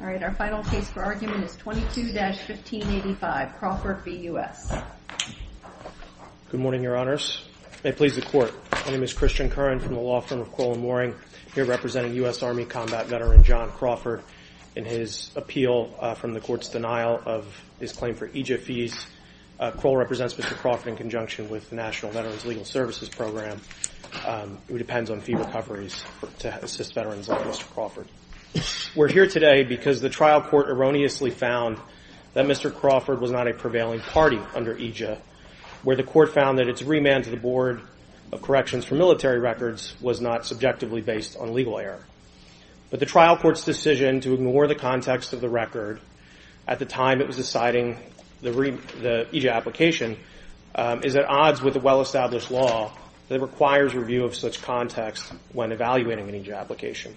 All right, our final case for argument is 22-1585, Crawford v. U.S. Good morning, Your Honors. May it please the Court. My name is Christian Curran from the law firm of Crowell & Mooring, here representing U.S. Army combat veteran John Crawford in his appeal from the Court's denial of his claim for EJF fees. Crowell represents Mr. Crawford in conjunction with the National Veterans Legal Services Program, who depends on fee recoveries to assist veterans like Mr. Crawford. We're here today because the trial court erroneously found that Mr. Crawford was not a prevailing party under EJF, where the court found that its remand to the Board of Corrections for military records was not subjectively based on legal error. But the trial court's decision to ignore the context of the record at the time it was deciding the EJF application is at odds with the well-established law that requires review of such context when evaluating an EJF application.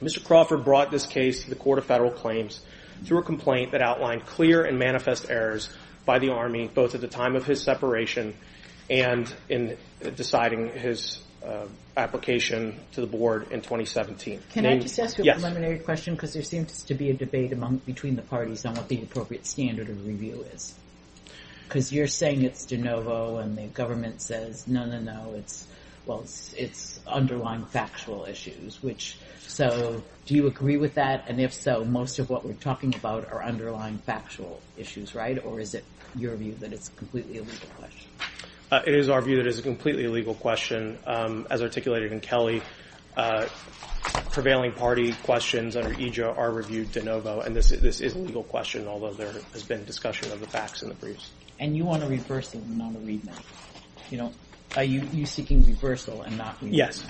Mr. Crawford brought this case to the Court of Federal Claims through a complaint that outlined clear and manifest errors by the Army, both at the time of his separation and in deciding his application to the Board in 2017. Can I just ask you a preliminary question? Because there seems to be a debate between the parties on what the appropriate standard of review is. Because you're saying it's de novo, and the government says, no, no, no, it's underlying factual issues. So do you agree with that? And if so, most of what we're talking about are underlying factual issues, right? Or is it your view that it's a completely illegal question? It is our view that it is a completely illegal question. As articulated in Kelly, prevailing party questions under EJF are reviewed de novo. And this is a legal question, although there has been discussion of the facts in the briefs. And you want a reversal, not a remand. Are you seeking reversal and not remand? Yes.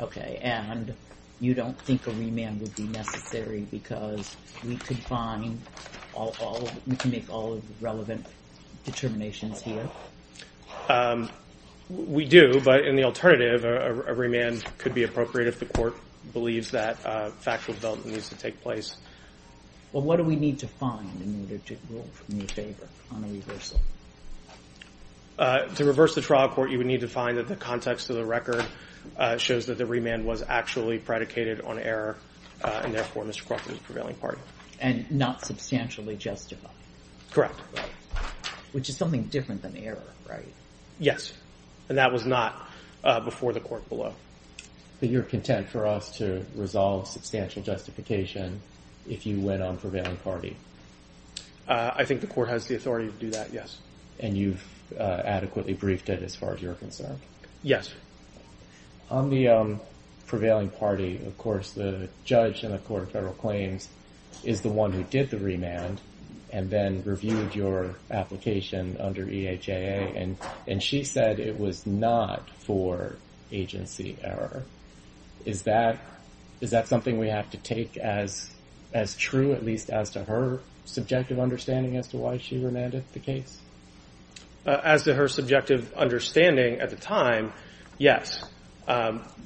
Okay. And you don't think a remand would be necessary because we could make all of the relevant determinations here? We do, but in the alternative, a remand could be appropriate if the Court believes that factual development needs to take place. Well, what do we need to find in order to rule in your favor on a reversal? To reverse the trial, Court, you would need to find that the context of the record shows that the remand was actually predicated on error, and therefore, Mr. Crockett is a prevailing party. And not substantially justified? Correct. Which is something different than error, right? Yes. And that was not before the Court below. But you're content for us to resolve substantial justification if you went on prevailing party? I think the Court has the authority to do that, yes. And you've adequately briefed it as far as you're concerned? Yes. On the prevailing party, of course, the judge in the Court of Federal Claims is the one who did the remand and then reviewed your application under EHAA, and she said it was not for agency error. Is that something we have to take as true, at least as to her subjective understanding as to why she remanded the case? As to her subjective understanding at the time, yes.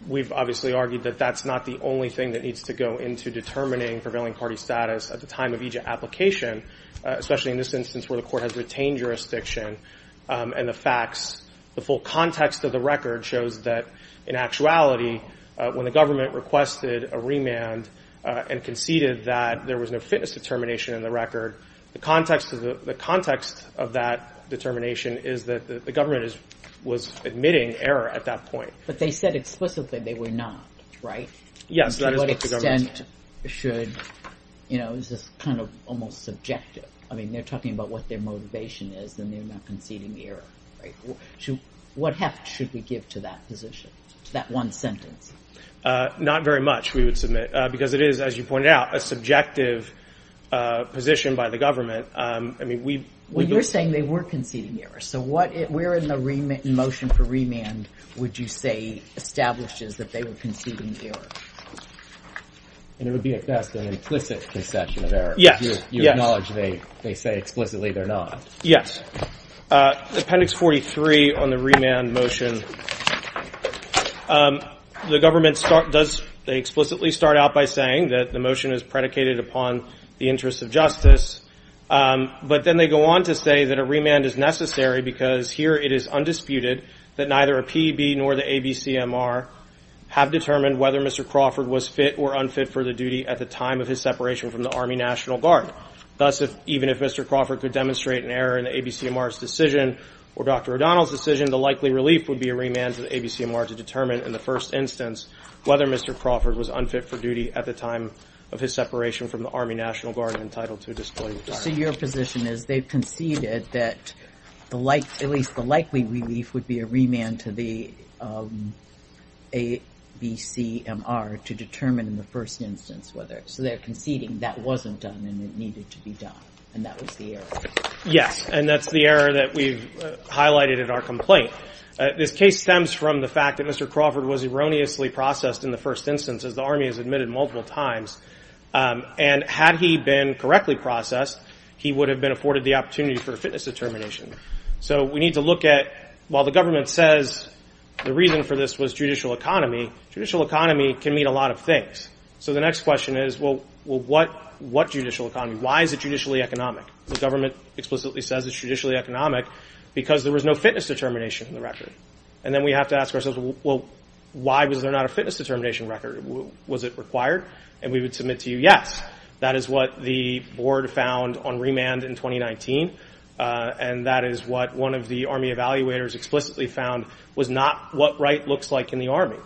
We've obviously argued that that's not the only thing that needs to go into determining prevailing party status at the time of EHAA application, especially in this instance where the Court has retained jurisdiction and the facts. The full context of the record shows that, in actuality, when the government requested a remand and conceded that there was no fitness determination in the record, the context of that determination is that the government was admitting error at that point. But they said explicitly they were not, right? Yes, that is what the government said. To what extent should, you know, this is kind of almost subjective. I mean, they're talking about what their motivation is and they're not conceding error. What heft should we give to that position, to that one sentence? Not very much, we would submit, because it is, as you pointed out, a subjective position by the government. I mean, we... Well, you're saying they were conceding error. So where in the motion for remand would you say establishes that they were conceding error? And it would be, at best, an implicit concession of error. Yes. You acknowledge they say explicitly they're not. Yes. Appendix 43 on the remand motion, the government does explicitly start out by saying that the motion is predicated upon the interests of justice. But then they go on to say that a remand is necessary because here it is undisputed that neither a PEB nor the ABCMR have determined whether Mr. Crawford was fit or unfit for the duty at the time of his separation from the Army National Guard. Thus, even if Mr. Crawford could demonstrate an error in the ABCMR's decision or Dr. O'Donnell's decision, the likely relief would be a remand to the ABCMR to determine, in the first instance, whether Mr. Crawford was unfit for duty at the time of his separation from the Army National Guard and entitled to a disemployment. So your position is they've conceded that at least the likely relief would be a remand to the ABCMR to determine in the first instance whether, so they're conceding that wasn't done and it needed to be done and that was the error. Yes. And that's the error that we've highlighted in our complaint. This case stems from the fact that Mr. Crawford was erroneously processed in the first instance, as the Army has admitted multiple times. And had he been correctly processed, he would have been afforded the opportunity for a fitness determination. So we need to look at, while the government says the reason for this was judicial economy, judicial economy can mean a lot of things. So the next question is, well, what judicial economy? Why is it judicially economic? The government explicitly says it's judicially economic because there was no fitness determination in the record. And then we have to ask ourselves, well, why was there not a fitness determination record? Was it required? And we would submit to you, yes, that is what the board found on remand in 2019. And that is what one of the Army evaluators explicitly found was not what right looks like in the Army.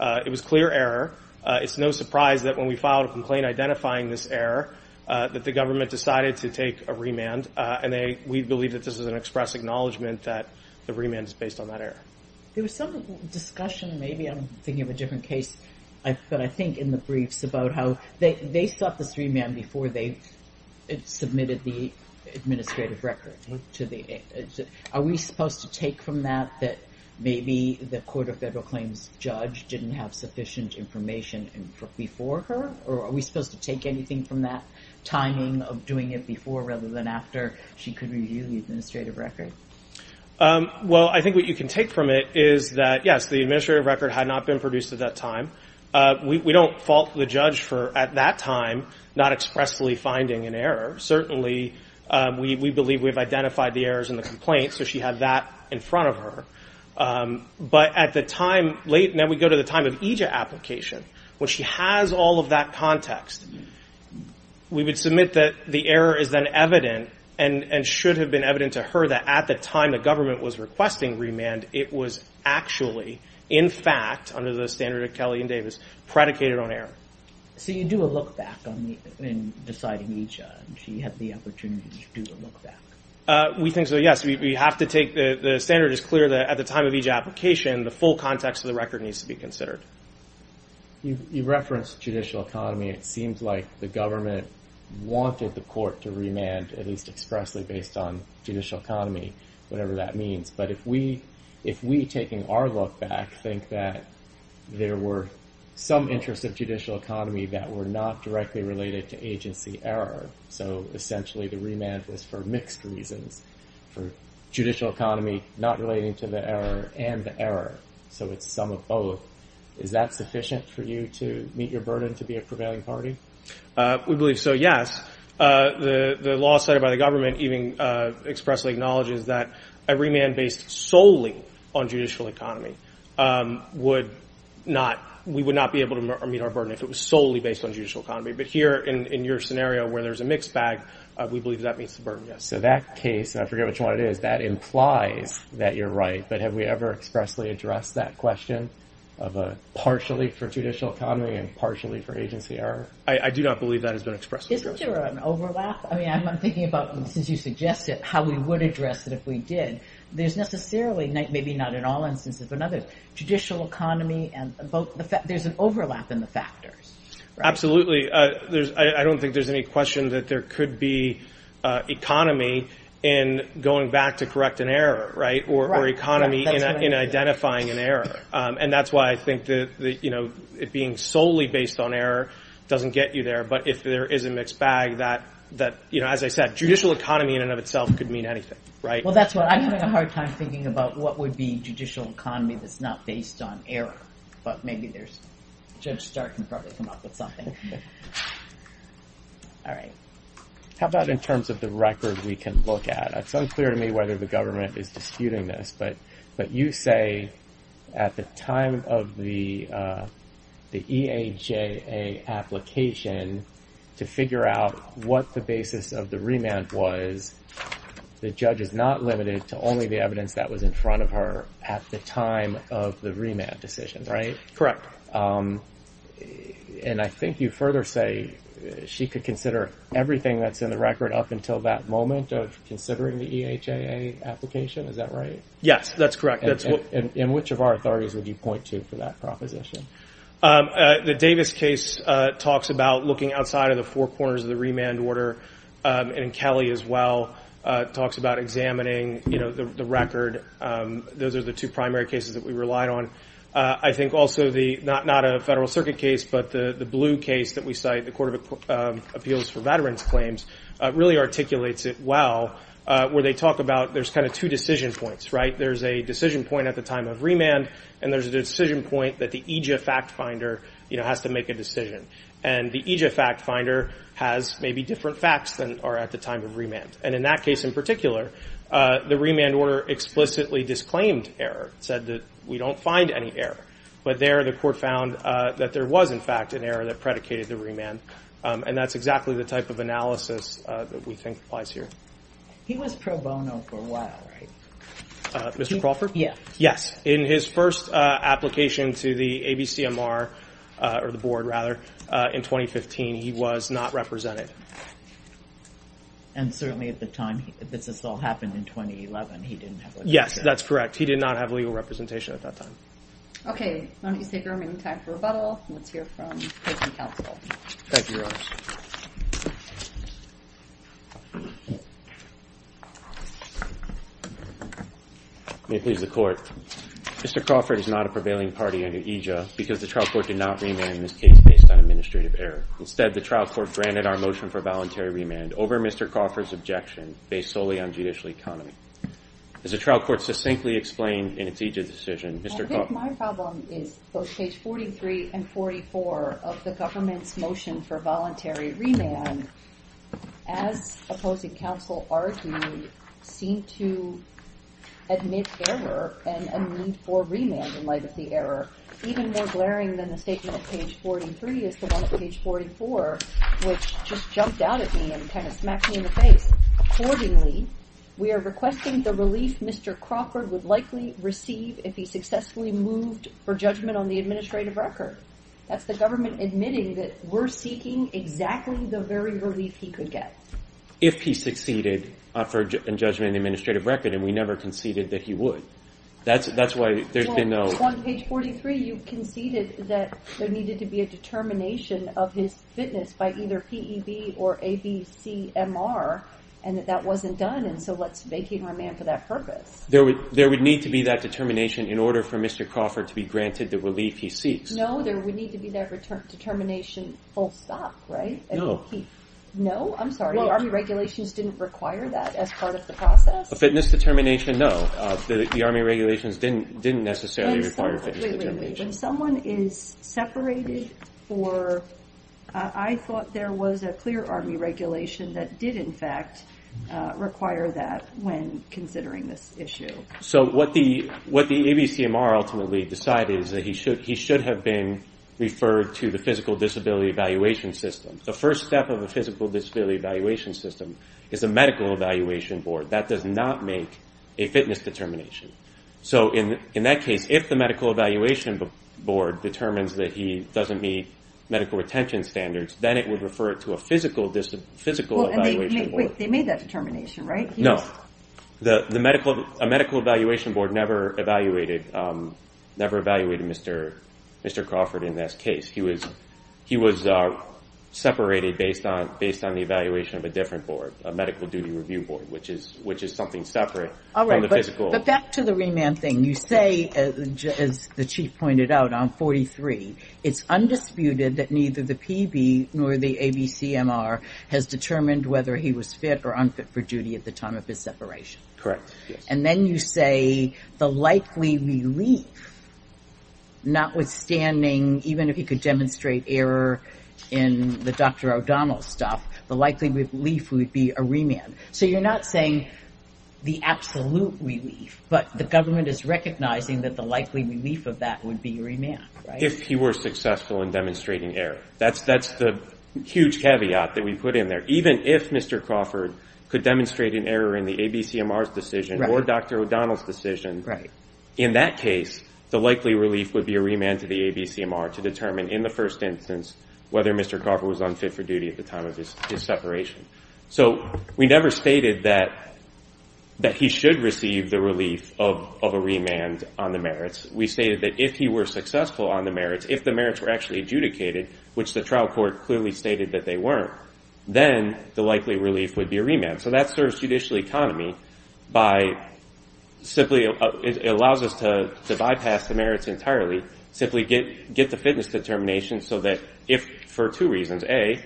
It was clear error. It's no surprise that when we filed a complaint identifying this error, that the government decided to take a remand. And we believe that this is an express acknowledgement that the remand is based on that error. There was some discussion, maybe I'm thinking of a different case, but I think in the briefs about how they sought this remand before they submitted the administrative record. Are we supposed to take from that that maybe the Court of Federal Claims judge didn't have sufficient information before her? Or are we supposed to take anything from that timing of doing it before rather than after she could review the administrative record? Well, I think what you can take from it is that, yes, the administrative record had not been produced at that time. We don't fault the judge for, at that time, not expressly finding an error. Certainly, we believe we've identified the errors in the complaint, so she had that in front of her. But at the time, now we go to the time of EJIA application, when she has all of that context, we would submit that the error is then evident and should have been evident to her that at the time the government was requesting remand, it was actually, in fact, under the standard of Kelly and Davis, predicated on error. So you do a look-back in deciding EJIA. She had the opportunity to do a look-back. We think so, yes. We have to take the standard as clear that at the time of EJIA application, the full context of the record needs to be considered. You referenced judicial economy. It seems like the government wanted the court to remand, at least expressly based on judicial economy, whatever that means. But if we, taking our look-back, think that there were some interests of judicial economy that were not directly related to agency error, so essentially the remand was for mixed reasons, for judicial economy not relating to the error and the error. So it's some of both. Is that sufficient for you to meet your burden to be a prevailing party? We believe so, yes. The law set by the government even expressly acknowledges that a remand based solely on judicial economy would not, we would not be able to meet our burden if it was solely based on judicial economy. But here in your scenario where there's a mixed bag, we believe that meets the burden, yes. So that case, I forget which one it is, that implies that you're right. But have we ever expressly addressed that question of a partially for judicial economy and partially for agency error? I do not believe that has been expressly addressed. Isn't there an overlap? I mean, I'm thinking about, since you suggested how we would address it if we did. There's necessarily, maybe not in all instances, but in others, judicial economy, there's an overlap in the factors. Absolutely. I don't think there's any question that there could be economy in going back to correct an error, or economy in identifying an error. And that's why I think that it being solely based on error doesn't get you there. But if there is a mixed bag that, as I said, judicial economy in and of itself could mean anything, right? Well, that's why I'm having a hard time thinking about what would be judicial economy that's not based on error. But maybe there's, Judge Stark can probably come up with something. All right. How about in terms of the record we can look at? It's unclear to me whether the government is disputing this, but you say at the time of the EAJA application to figure out what the basis of the remand was, the judge is not limited to only the evidence that was in front of her at the time of the remand decision, right? Correct. And I think you further say she could consider everything that's in the record up until that moment of considering the EAJA application. Is that right? Yes, that's correct. And which of our authorities would you point to for that proposition? The Davis case talks about looking outside of the four corners of the remand order, and Kelly as well talks about examining the record. Those are the two primary cases that we relied on. I think also not a Federal Circuit case, but the blue case that we cite, the Court of Appeals for Veterans Claims, really articulates it well, where they talk about there's kind of two decision points, right? And there's a decision point that the EAJA fact finder has to make a decision. And the EAJA fact finder has maybe different facts than are at the time of remand. And in that case in particular, the remand order explicitly disclaimed error, said that we don't find any error. But there the court found that there was in fact an error that predicated the remand. And that's exactly the type of analysis that we think applies here. He was pro bono for a while, right? Mr. Crawford? Yes. In his first application to the ABCMR, or the board rather, in 2015, he was not represented. And certainly at the time this all happened in 2011, he didn't have legal representation. Yes, that's correct. He did not have legal representation at that time. Okay, why don't you take our remaining time for rebuttal. Let's hear from the counsel. Thank you, Rose. May it please the court. Mr. Crawford is not a prevailing party under EJA because the trial court did not remand in this case based on administrative error. Instead, the trial court granted our motion for voluntary remand over Mr. Crawford's objection based solely on judicial economy. As the trial court succinctly explained in its EJA decision, Mr. Crawford... I think my problem is both page 43 and 44 of the government's motion for voluntary remand, as opposing counsel argued, seemed to admit error and a need for remand in light of the error. Even more glaring than the statement at page 43 is the one at page 44, which just jumped out at me and kind of smacked me in the face. Accordingly, we are requesting the relief Mr. Crawford would likely receive if he successfully moved for judgment on the administrative record. That's the government admitting that we're seeking exactly the very relief he could get. If he succeeded in judgment on the administrative record, and we never conceded that he would. On page 43, you conceded that there needed to be a determination of his fitness by either P.E.B. or A.B.C.M.R. and that wasn't done, and so let's vacate remand for that purpose. There would need to be that determination in order for Mr. Crawford to be granted the relief he seeks. No, there would need to be that determination full stop, right? No, I'm sorry, the Army regulations didn't require that as part of the process? The fitness determination, no, the Army regulations didn't necessarily require fitness determination. When someone is separated for, I thought there was a clear Army regulation that did in fact require that when considering this issue. So what the A.B.C.M.R. ultimately decided is that he should have been referred to the physical disability evaluation system. The first step of a physical disability evaluation system is a medical evaluation board. That does not make a fitness determination. So in that case, if the medical evaluation board determines that he doesn't meet medical retention standards, then it would refer it to a physical evaluation board. They made that determination, right? No, a medical evaluation board never evaluated Mr. Crawford in this case. He was separated based on the evaluation of a different board, a medical duty review board, which is something separate. All right, but back to the remand thing. You say, as the Chief pointed out, on 43, it's undisputed that neither the P.B. nor the A.B.C.M.R. has determined whether he was fit or unfit for duty at the time of his separation. Correct. And then you say the likely relief, notwithstanding, even if he could demonstrate error in the Dr. O'Donnell stuff, the likely relief would be a remand. So you're not saying the absolute relief, but the government is recognizing that the likely relief of that would be remand, right? If he were successful in demonstrating error. That's the huge caveat that we put in there. Even if Mr. Crawford could demonstrate an error in the A.B.C.M.R.'s decision or Dr. O'Donnell's decision, in that case, the likely relief would be a remand to the A.B.C.M.R. to determine, in the first instance, whether Mr. Crawford was unfit for duty at the time of his separation. So we never stated that he should receive the relief of a remand on the merits. We stated that if he were successful on the merits, if the merits were actually adjudicated, which the trial court clearly stated that they weren't, then the likely relief would be a remand. So that serves judicial economy by simply allows us to bypass the merits entirely, simply get the fitness determination so that if, for two reasons, A,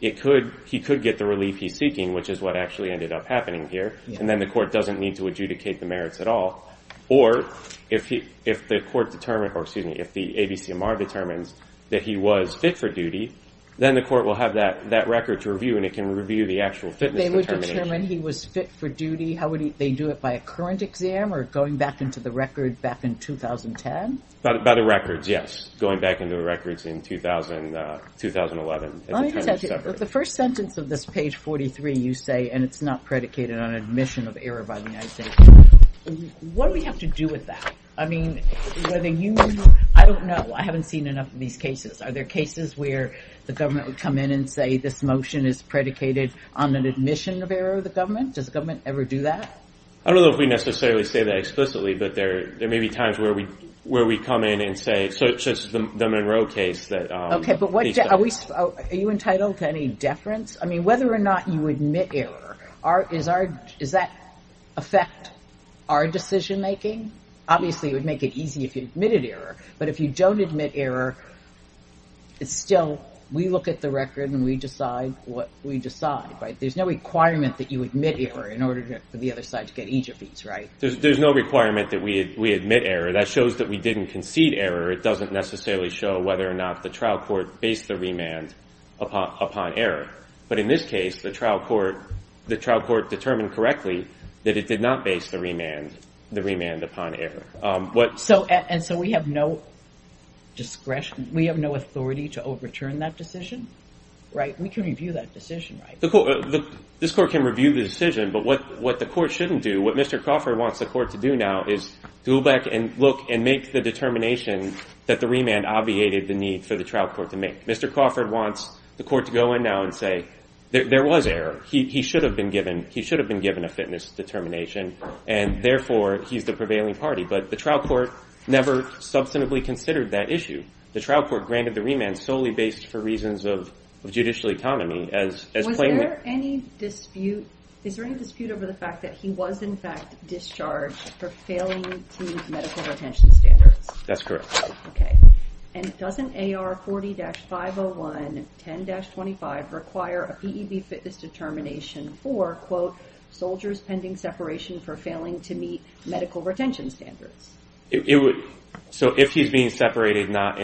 he could get the relief he's seeking, which is what actually ended up happening here, and then the court doesn't need to adjudicate the merits at all. Or if the court determines, or excuse me, if the A.B.C.M.R. determines that he was fit for duty, then the court will have that record to review and it can review the actual fitness determination. How would they do it? By a current exam or going back into the record back in 2010? By the records, yes. Going back into the records in 2011. The first sentence of this page 43, you say, and it's not predicated on admission of error by the United States. What do we have to do with that? I mean, whether you, I don't know. I haven't seen enough of these cases. Are there cases where the government would come in and say this motion is predicated on an admission of error of the government? Does the government ever do that? I don't know if we necessarily say that explicitly, but there may be times where we come in and say, such as the Monroe case. Are you entitled to any deference? I mean, whether or not you admit error, does that affect our decision making? Obviously, it would make it easy if you admitted error, but if you don't admit error, it's still, we look at the record and we decide what we decide, right? There's no requirement that you admit error in order for the other side to get each of these, right? There's no requirement that we admit error. That shows that we didn't concede error. It doesn't necessarily show whether or not the trial court based the remand upon error. But in this case, the trial court determined correctly that it did not base the remand upon error. And so we have no discretion, we have no authority to overturn that decision, right? We can review that decision, right? This court can review the decision, but what the court shouldn't do, what Mr. Crawford wants the court to do now, is to go back and look and make the determination that the remand obviated the need for the trial court to make. Mr. Crawford wants the court to go in now and say, there was error, he should have been given a fitness determination, and therefore he's the prevailing party. But the trial court never substantively considered that issue. The trial court granted the remand solely based for reasons of judicial economy. Is there any dispute over the fact that he was in fact discharged for failing to meet medical retention standards? That's correct. And doesn't AR 40-501, 10-25 require a PEB fitness determination for, quote, in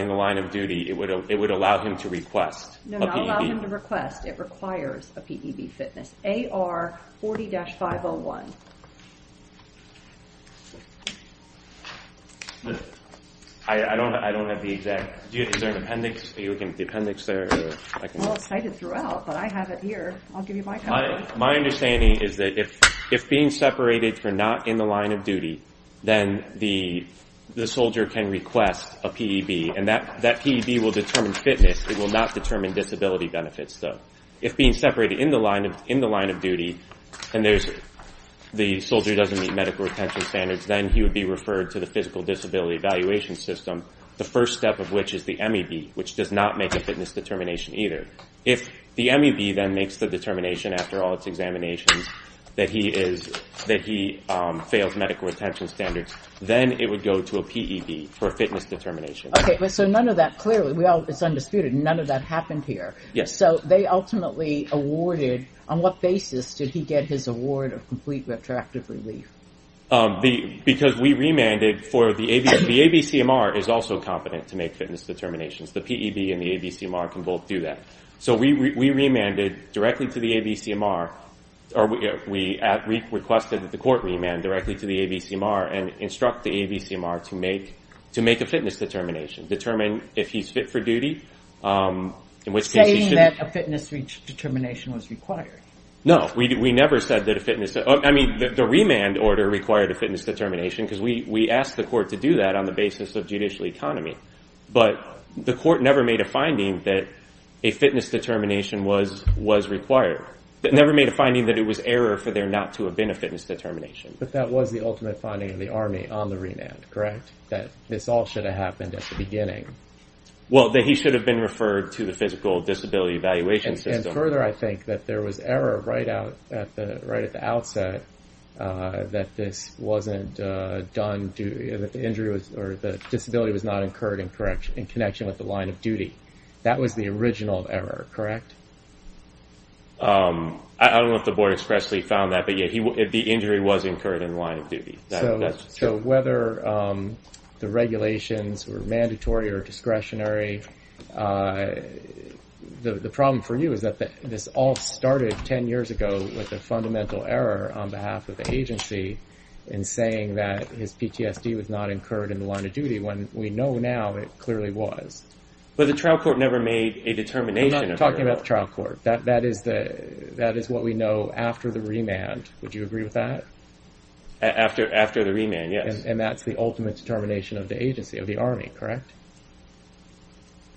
the line of duty, it would allow him to request a PEB? No, not allow him to request, it requires a PEB fitness. AR 40-501. I don't have the exact, is there an appendix? Well, it's cited throughout, but I have it here. I'll give you my copy. My understanding is that if being separated for not in the line of duty, then the soldier can request a PEB, and that PEB will determine fitness. It will not determine disability benefits, though. If being separated in the line of duty and the soldier doesn't meet medical retention standards, then he would be referred to the physical disability evaluation system, the first step of which is the MEB, which does not make a fitness determination either. If the MEB then makes the determination after all its examinations that he fails medical retention standards, then it would go to a PEB for a fitness determination. Okay, so none of that, clearly, it's undisputed, none of that happened here. So they ultimately awarded, on what basis did he get his award of complete retroactive relief? Because we remanded for, the ABCMR is also competent to make fitness determinations. The PEB and the ABCMR can both do that. So we remanded directly to the ABCMR, or we requested that the court remand directly to the ABCMR and instruct the ABCMR to make a fitness determination, determine if he's fit for duty. Saying that a fitness determination was required. No, we never said that a fitness, I mean the remand order required a fitness determination, because we asked the court to do that on the basis of judicial economy. But the court never made a finding that a fitness determination was required. It never made a finding that it was error for there not to have been a fitness determination. But that was the ultimate finding of the Army on the remand, correct? That this all should have happened at the beginning. Well, that he should have been referred to the physical disability evaluation system. And further, I think that there was error right at the outset that this wasn't done, that the disability was not incurred in connection with the line of duty. That was the original error, correct? I don't know if the board expressly found that, but yeah, the injury was incurred in line of duty. So whether the regulations were mandatory or discretionary, the problem for you is that this all started 10 years ago with a fundamental error on behalf of the agency in saying that his PTSD was not incurred in the line of duty, when we know now it clearly was. But the trial court never made a determination. We're not talking about the trial court. That is what we know after the remand. Would you agree with that? After the remand, yes. And that's the ultimate determination of the agency, of the Army, correct?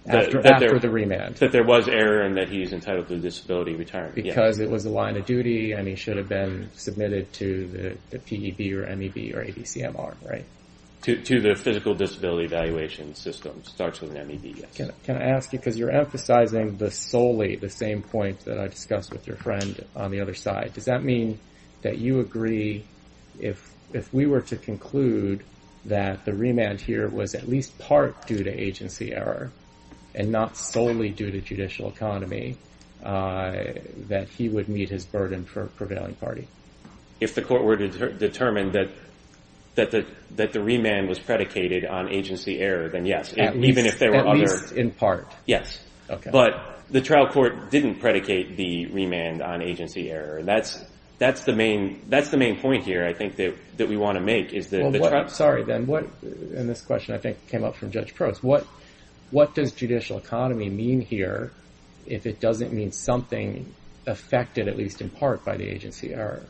After the remand. That there was error and that he's entitled to disability retirement, yes. Because it was a line of duty and he should have been submitted to the PEB or MEB or ABCMR, right? To the physical disability evaluation system. Starts with an MEB, yes. Can I ask you, because you're emphasizing solely the same point that I discussed with your friend on the other side. Does that mean that you agree, if we were to conclude that the remand here was at least part due to agency error and not solely due to judicial economy, that he would meet his burden for a prevailing party? If the court were to determine that the remand was predicated on agency error, then yes. At least in part? Yes. Okay. But the trial court didn't predicate the remand on agency error. That's the main point here, I think, that we want to make. Sorry, Ben. And this question, I think, came up from Judge Probst. What does judicial economy mean here if it doesn't mean something affected, at least in part, by the agency error?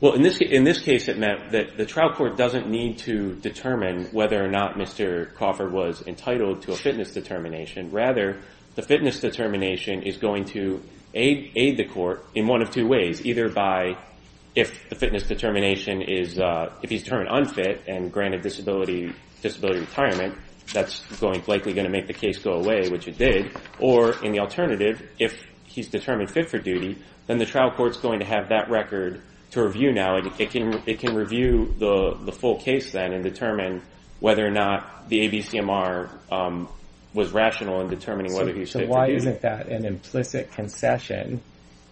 In this case, it meant that the trial court doesn't need to determine whether or not Mr. Coffer was entitled to a fitness determination. Rather, the fitness determination is going to aid the court in one of two ways, either by if he's determined unfit and granted disability retirement, that's likely going to make the case go away, which it did, or, in the alternative, if he's determined fit for duty, then the trial court's going to have that record to review now. It can review the full case then and determine whether or not the ABCMR was rational in determining whether he's fit for duty. So why isn't that an implicit concession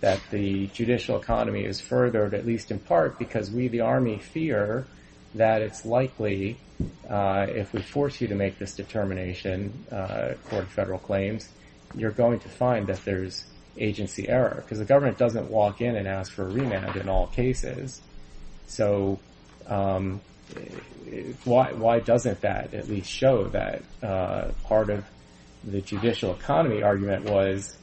that the judicial economy is furthered, at least in part, because we, the Army, fear that it's likely if we force you to make this determination, according to federal claims, you're going to find that there's agency error because the government doesn't walk in and ask for a remand in all cases. So why doesn't that at least show that part of the judicial economy argument was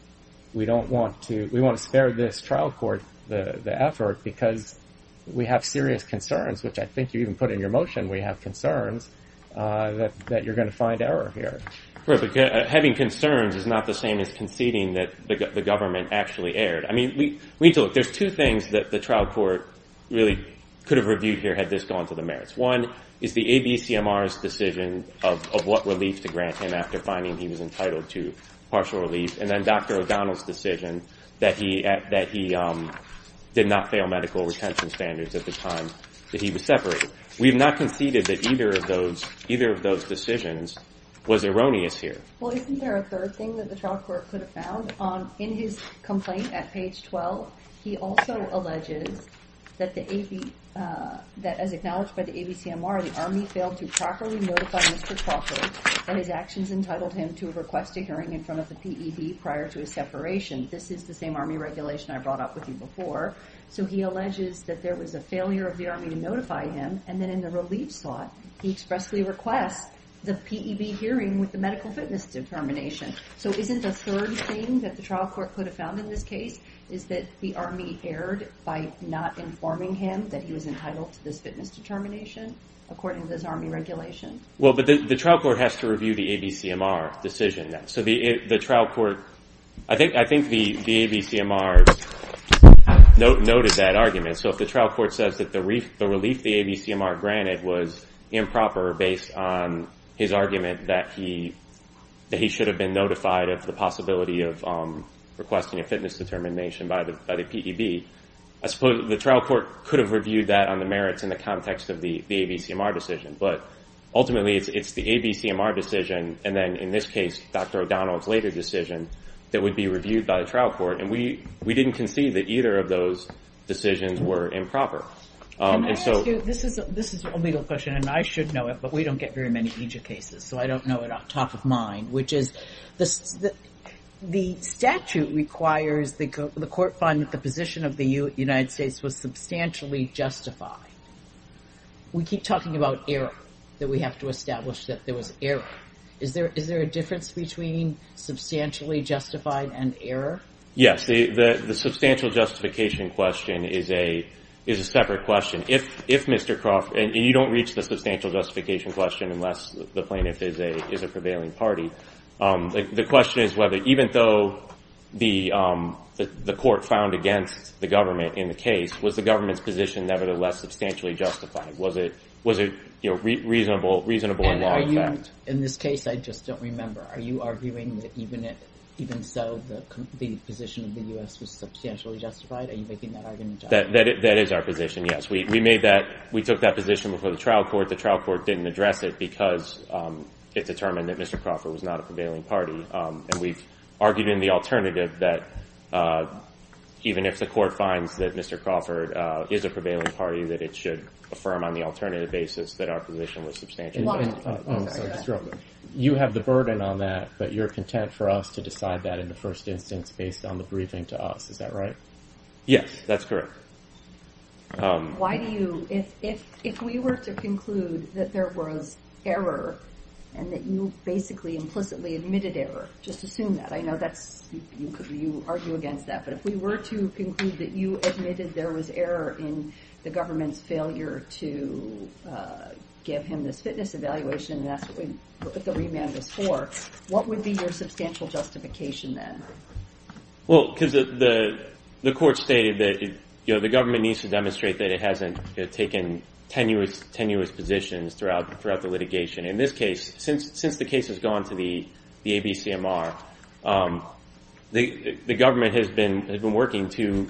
we don't want to, we want to spare this trial court the effort because we have serious concerns, which I think you even put in your motion, we have concerns that you're going to find error here. Having concerns is not the same as conceding that the government actually erred. I mean, there's two things that the trial court really could have reviewed here had this gone to the merits. One is the ABCMR's decision of what relief to grant him after finding he was entitled to partial relief, and then Dr. O'Donnell's decision that he did not fail medical retention standards at the time that he was separated. We have not conceded that either of those decisions was erroneous here. Well, isn't there a third thing that the trial court could have found? In his complaint at page 12, he also alleges that as acknowledged by the ABCMR, the Army failed to properly notify Mr. Crockett that his actions entitled him to request a hearing in front of the PED prior to his separation. This is the same Army regulation I brought up with you before. So he alleges that there was a failure of the Army to notify him, and then in the relief slot, he expressly requests the PED hearing with the medical fitness determination. So isn't the third thing that the trial court could have found in this case is that the Army erred by not informing him that he was entitled to this fitness determination, according to this Army regulation? Well, but the trial court has to review the ABCMR decision. I think the ABCMR noted that argument. So if the trial court says that the relief the ABCMR granted was improper, based on his argument that he should have been notified of the possibility of requesting a fitness determination by the PED, I suppose the trial court could have reviewed that on the merits in the context of the ABCMR decision. But ultimately, it's the ABCMR decision, and then in this case, Dr. O'Donnell's later decision, that would be reviewed by the trial court. And we didn't concede that either of those decisions were improper. Can I ask you, this is a legal question, and I should know it, but we don't get very many EJIA cases, so I don't know it off the top of my mind, which is the statute requires the court find that the position of the United States was substantially justified. We keep talking about error, that we have to establish that there was error. Is there a difference between substantially justified and error? Yes, the substantial justification question is a separate question. If Mr. Croft, and you don't reach the substantial justification question unless the plaintiff is a prevailing party, the question is whether even though the court found against the government in the case, was the government's position nevertheless substantially justified? Was it a reasonable and long fact? In this case, I just don't remember. Are you arguing that even so, the position of the U.S. was substantially justified? Are you making that argument? That is our position, yes. We took that position before the trial court. The trial court didn't address it because it determined that Mr. Crawford was not a prevailing party. We've argued in the alternative that even if the court finds that Mr. Crawford is a prevailing party, that it should affirm on the alternative basis that our position was substantially justified. You have the burden on that, but you're content for us to decide that in the first instance based on the briefing to us. Is that right? Yes, that's correct. If we were to conclude that there was error and that you basically implicitly admitted error, just assume that. I know you argue against that, but if we were to conclude that you admitted there was error in the government's failure to give him this fitness evaluation and that's what the remand was for, what would be your substantial justification then? The court stated that the government needs to demonstrate that it hasn't taken tenuous positions throughout the litigation. In this case, since the case has gone to the ABCMR, the government has been working to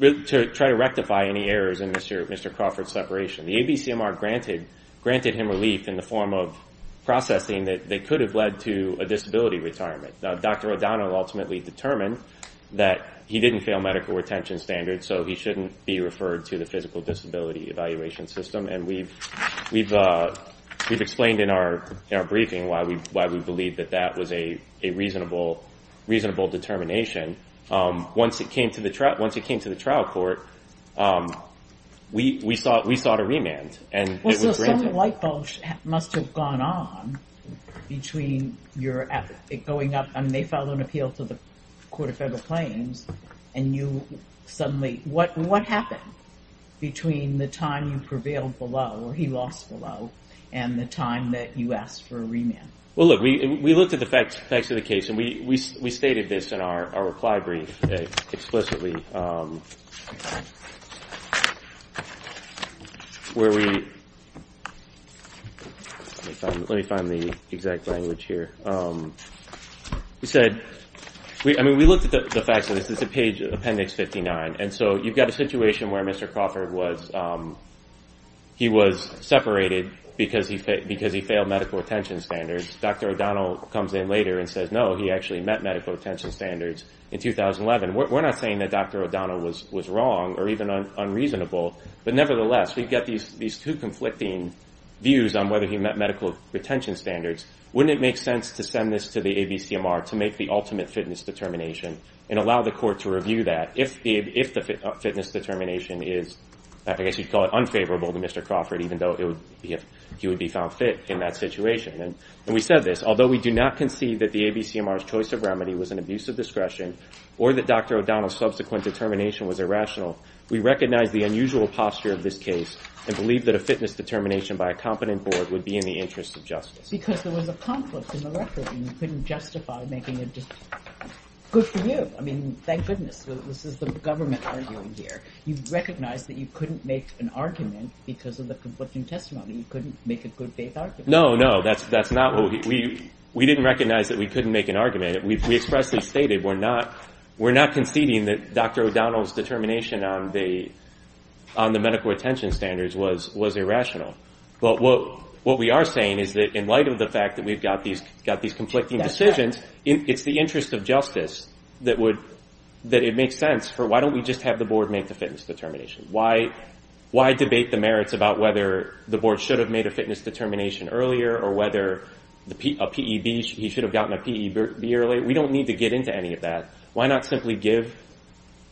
try to rectify any errors in Mr. Crawford's separation. The ABCMR granted him relief in the form of processing that could have led to a disability retirement. Dr. O'Donnell ultimately determined that he didn't fail medical retention standards, so he shouldn't be referred to the physical disability evaluation system. We've explained in our briefing why we believe that that was a reasonable determination. Once it came to the trial court, we sought a remand. Some lightbulb must have gone on. They filed an appeal to the Court of Federal Claims. What happened between the time you prevailed below, or he lost below, and the time that you asked for a remand? Well, look, we looked at the facts of the case, and we stated this in our reply brief explicitly. Let me find the exact language here. We looked at the facts, and this is a page, Appendix 59, and so you've got a situation where Mr. Crawford was separated because he failed medical retention standards. Dr. O'Donnell comes in later and says, no, he actually met medical retention standards in 2011. We're not saying that Dr. O'Donnell was wrong or even unreasonable, but nevertheless, we've got these two conflicting views on whether he met medical retention standards. Wouldn't it make sense to send this to the ABCMR to make the ultimate fitness determination and allow the court to review that? If the fitness determination is, I guess you'd call it unfavorable to Mr. Crawford, even though he would be found fit in that situation. And we said this, although we do not concede that the ABCMR's choice of remedy was an abuse of discretion or that Dr. O'Donnell's subsequent determination was irrational, we recognize the unusual posture of this case and believe that a fitness determination by a competent board would be in the interest of justice. Because there was a conflict in the record, and you couldn't justify making it just good for you. I mean, thank goodness, this is the government arguing here. You've recognized that you couldn't make an argument because of the conflicting testimony. You couldn't make a good faith argument. No, no, that's not what we – we didn't recognize that we couldn't make an argument. We expressly stated we're not conceding that Dr. O'Donnell's determination on the medical retention standards was irrational. But what we are saying is that in light of the fact that we've got these conflicting decisions, it's the interest of justice that it makes sense for why don't we just have the board make the fitness determination? Why debate the merits about whether the board should have made a fitness determination earlier or whether a PEB, he should have gotten a PEB early? We don't need to get into any of that. Why not simply give,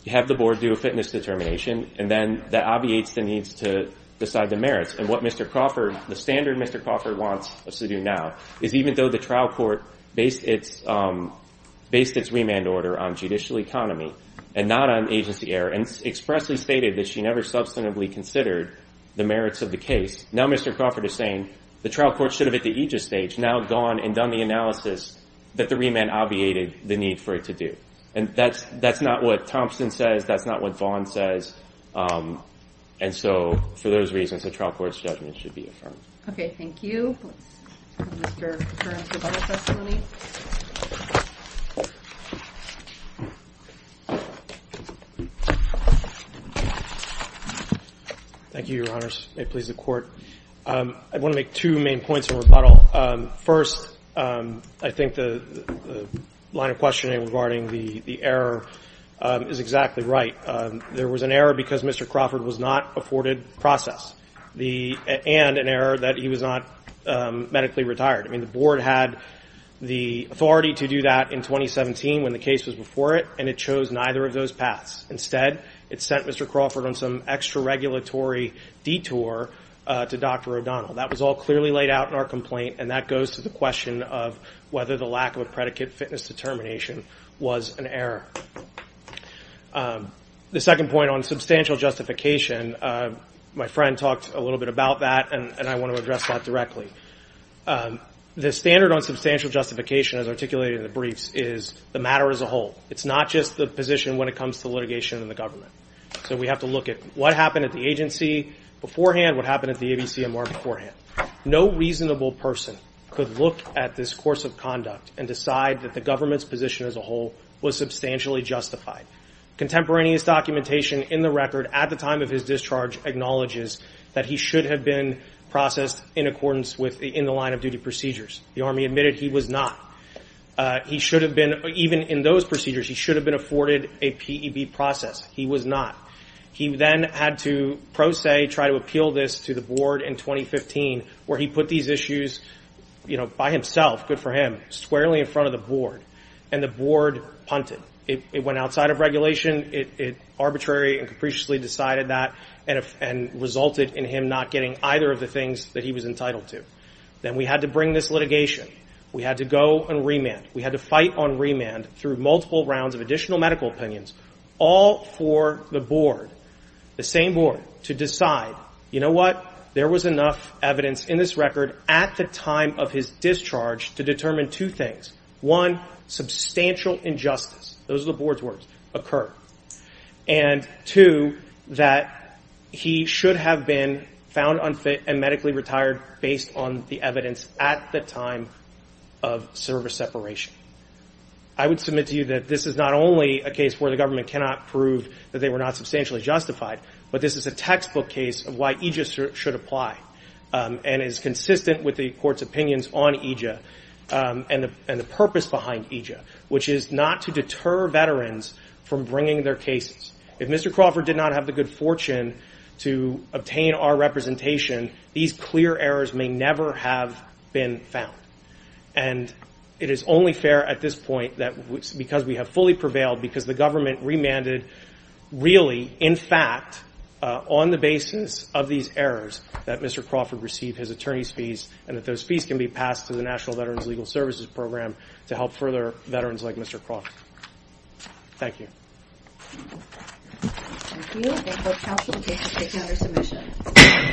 have the board do a fitness determination, and then that obviates the needs to decide the merits? And what Mr. Crawford, the standard Mr. Crawford wants us to do now, is even though the trial court based its remand order on judicial economy and not on agency error and expressly stated that she never substantively considered the merits of the case, now Mr. Crawford is saying the trial court should have at the aegis stage now gone and done the analysis that the remand obviated the need for it to do. And that's not what Thompson says. That's not what Vaughn says. And so for those reasons, the trial court's judgment should be affirmed. Okay. Thank you. Thank you, Your Honors. May it please the Court. I want to make two main points of rebuttal. First, I think the line of questioning regarding the error is exactly right. There was an error because Mr. Crawford was not afforded process and an error that he was not medically retired. I mean, the board had the authority to do that in 2017 when the case was before it, and it chose neither of those paths. Instead, it sent Mr. Crawford on some extra-regulatory detour to Dr. O'Donnell. That was all clearly laid out in our complaint, and that goes to the question of whether the lack of a predicate fitness determination was an error. The second point on substantial justification, my friend talked a little bit about that, and I want to address that directly. The standard on substantial justification, as articulated in the briefs, is the matter as a whole. It's not just the position when it comes to litigation in the government. So we have to look at what happened at the agency beforehand, what happened at the ABCMR beforehand. No reasonable person could look at this course of conduct and decide that the government's position as a whole was substantially justified. Contemporaneous documentation in the record at the time of his discharge acknowledges that he should have been processed in accordance with the line-of-duty procedures. The Army admitted he was not. He should have been, even in those procedures, he should have been afforded a PEB process. He was not. He then had to pro se try to appeal this to the board in 2015, where he put these issues, you know, by himself, good for him, squarely in front of the board, and the board punted. It went outside of regulation. It arbitrarily and capriciously decided that and resulted in him not getting either of the things that he was entitled to. Then we had to bring this litigation. We had to go and remand. We had to fight on remand through multiple rounds of additional medical opinions, all for the board, the same board, to decide, you know what, there was enough evidence in this record at the time of his discharge to determine two things. One, substantial injustice, those are the board's words, occurred. And two, that he should have been found unfit and medically retired based on the evidence at the time of service separation. I would submit to you that this is not only a case where the government cannot prove that they were not substantially justified, but this is a textbook case of why EJIA should apply and is consistent with the court's opinions on EJIA and the purpose behind EJIA, which is not to deter veterans from bringing their cases. If Mr. Crawford did not have the good fortune to obtain our representation, these clear errors may never have been found. And it is only fair at this point that because we have fully prevailed, because the government remanded really, in fact, on the basis of these errors, that Mr. Crawford receive his attorney's fees and that those fees can be passed to the National Veterans Legal Services Program to help further veterans like Mr. Crawford. Thank you. Thank you, and I hope counsel will take this case under submission.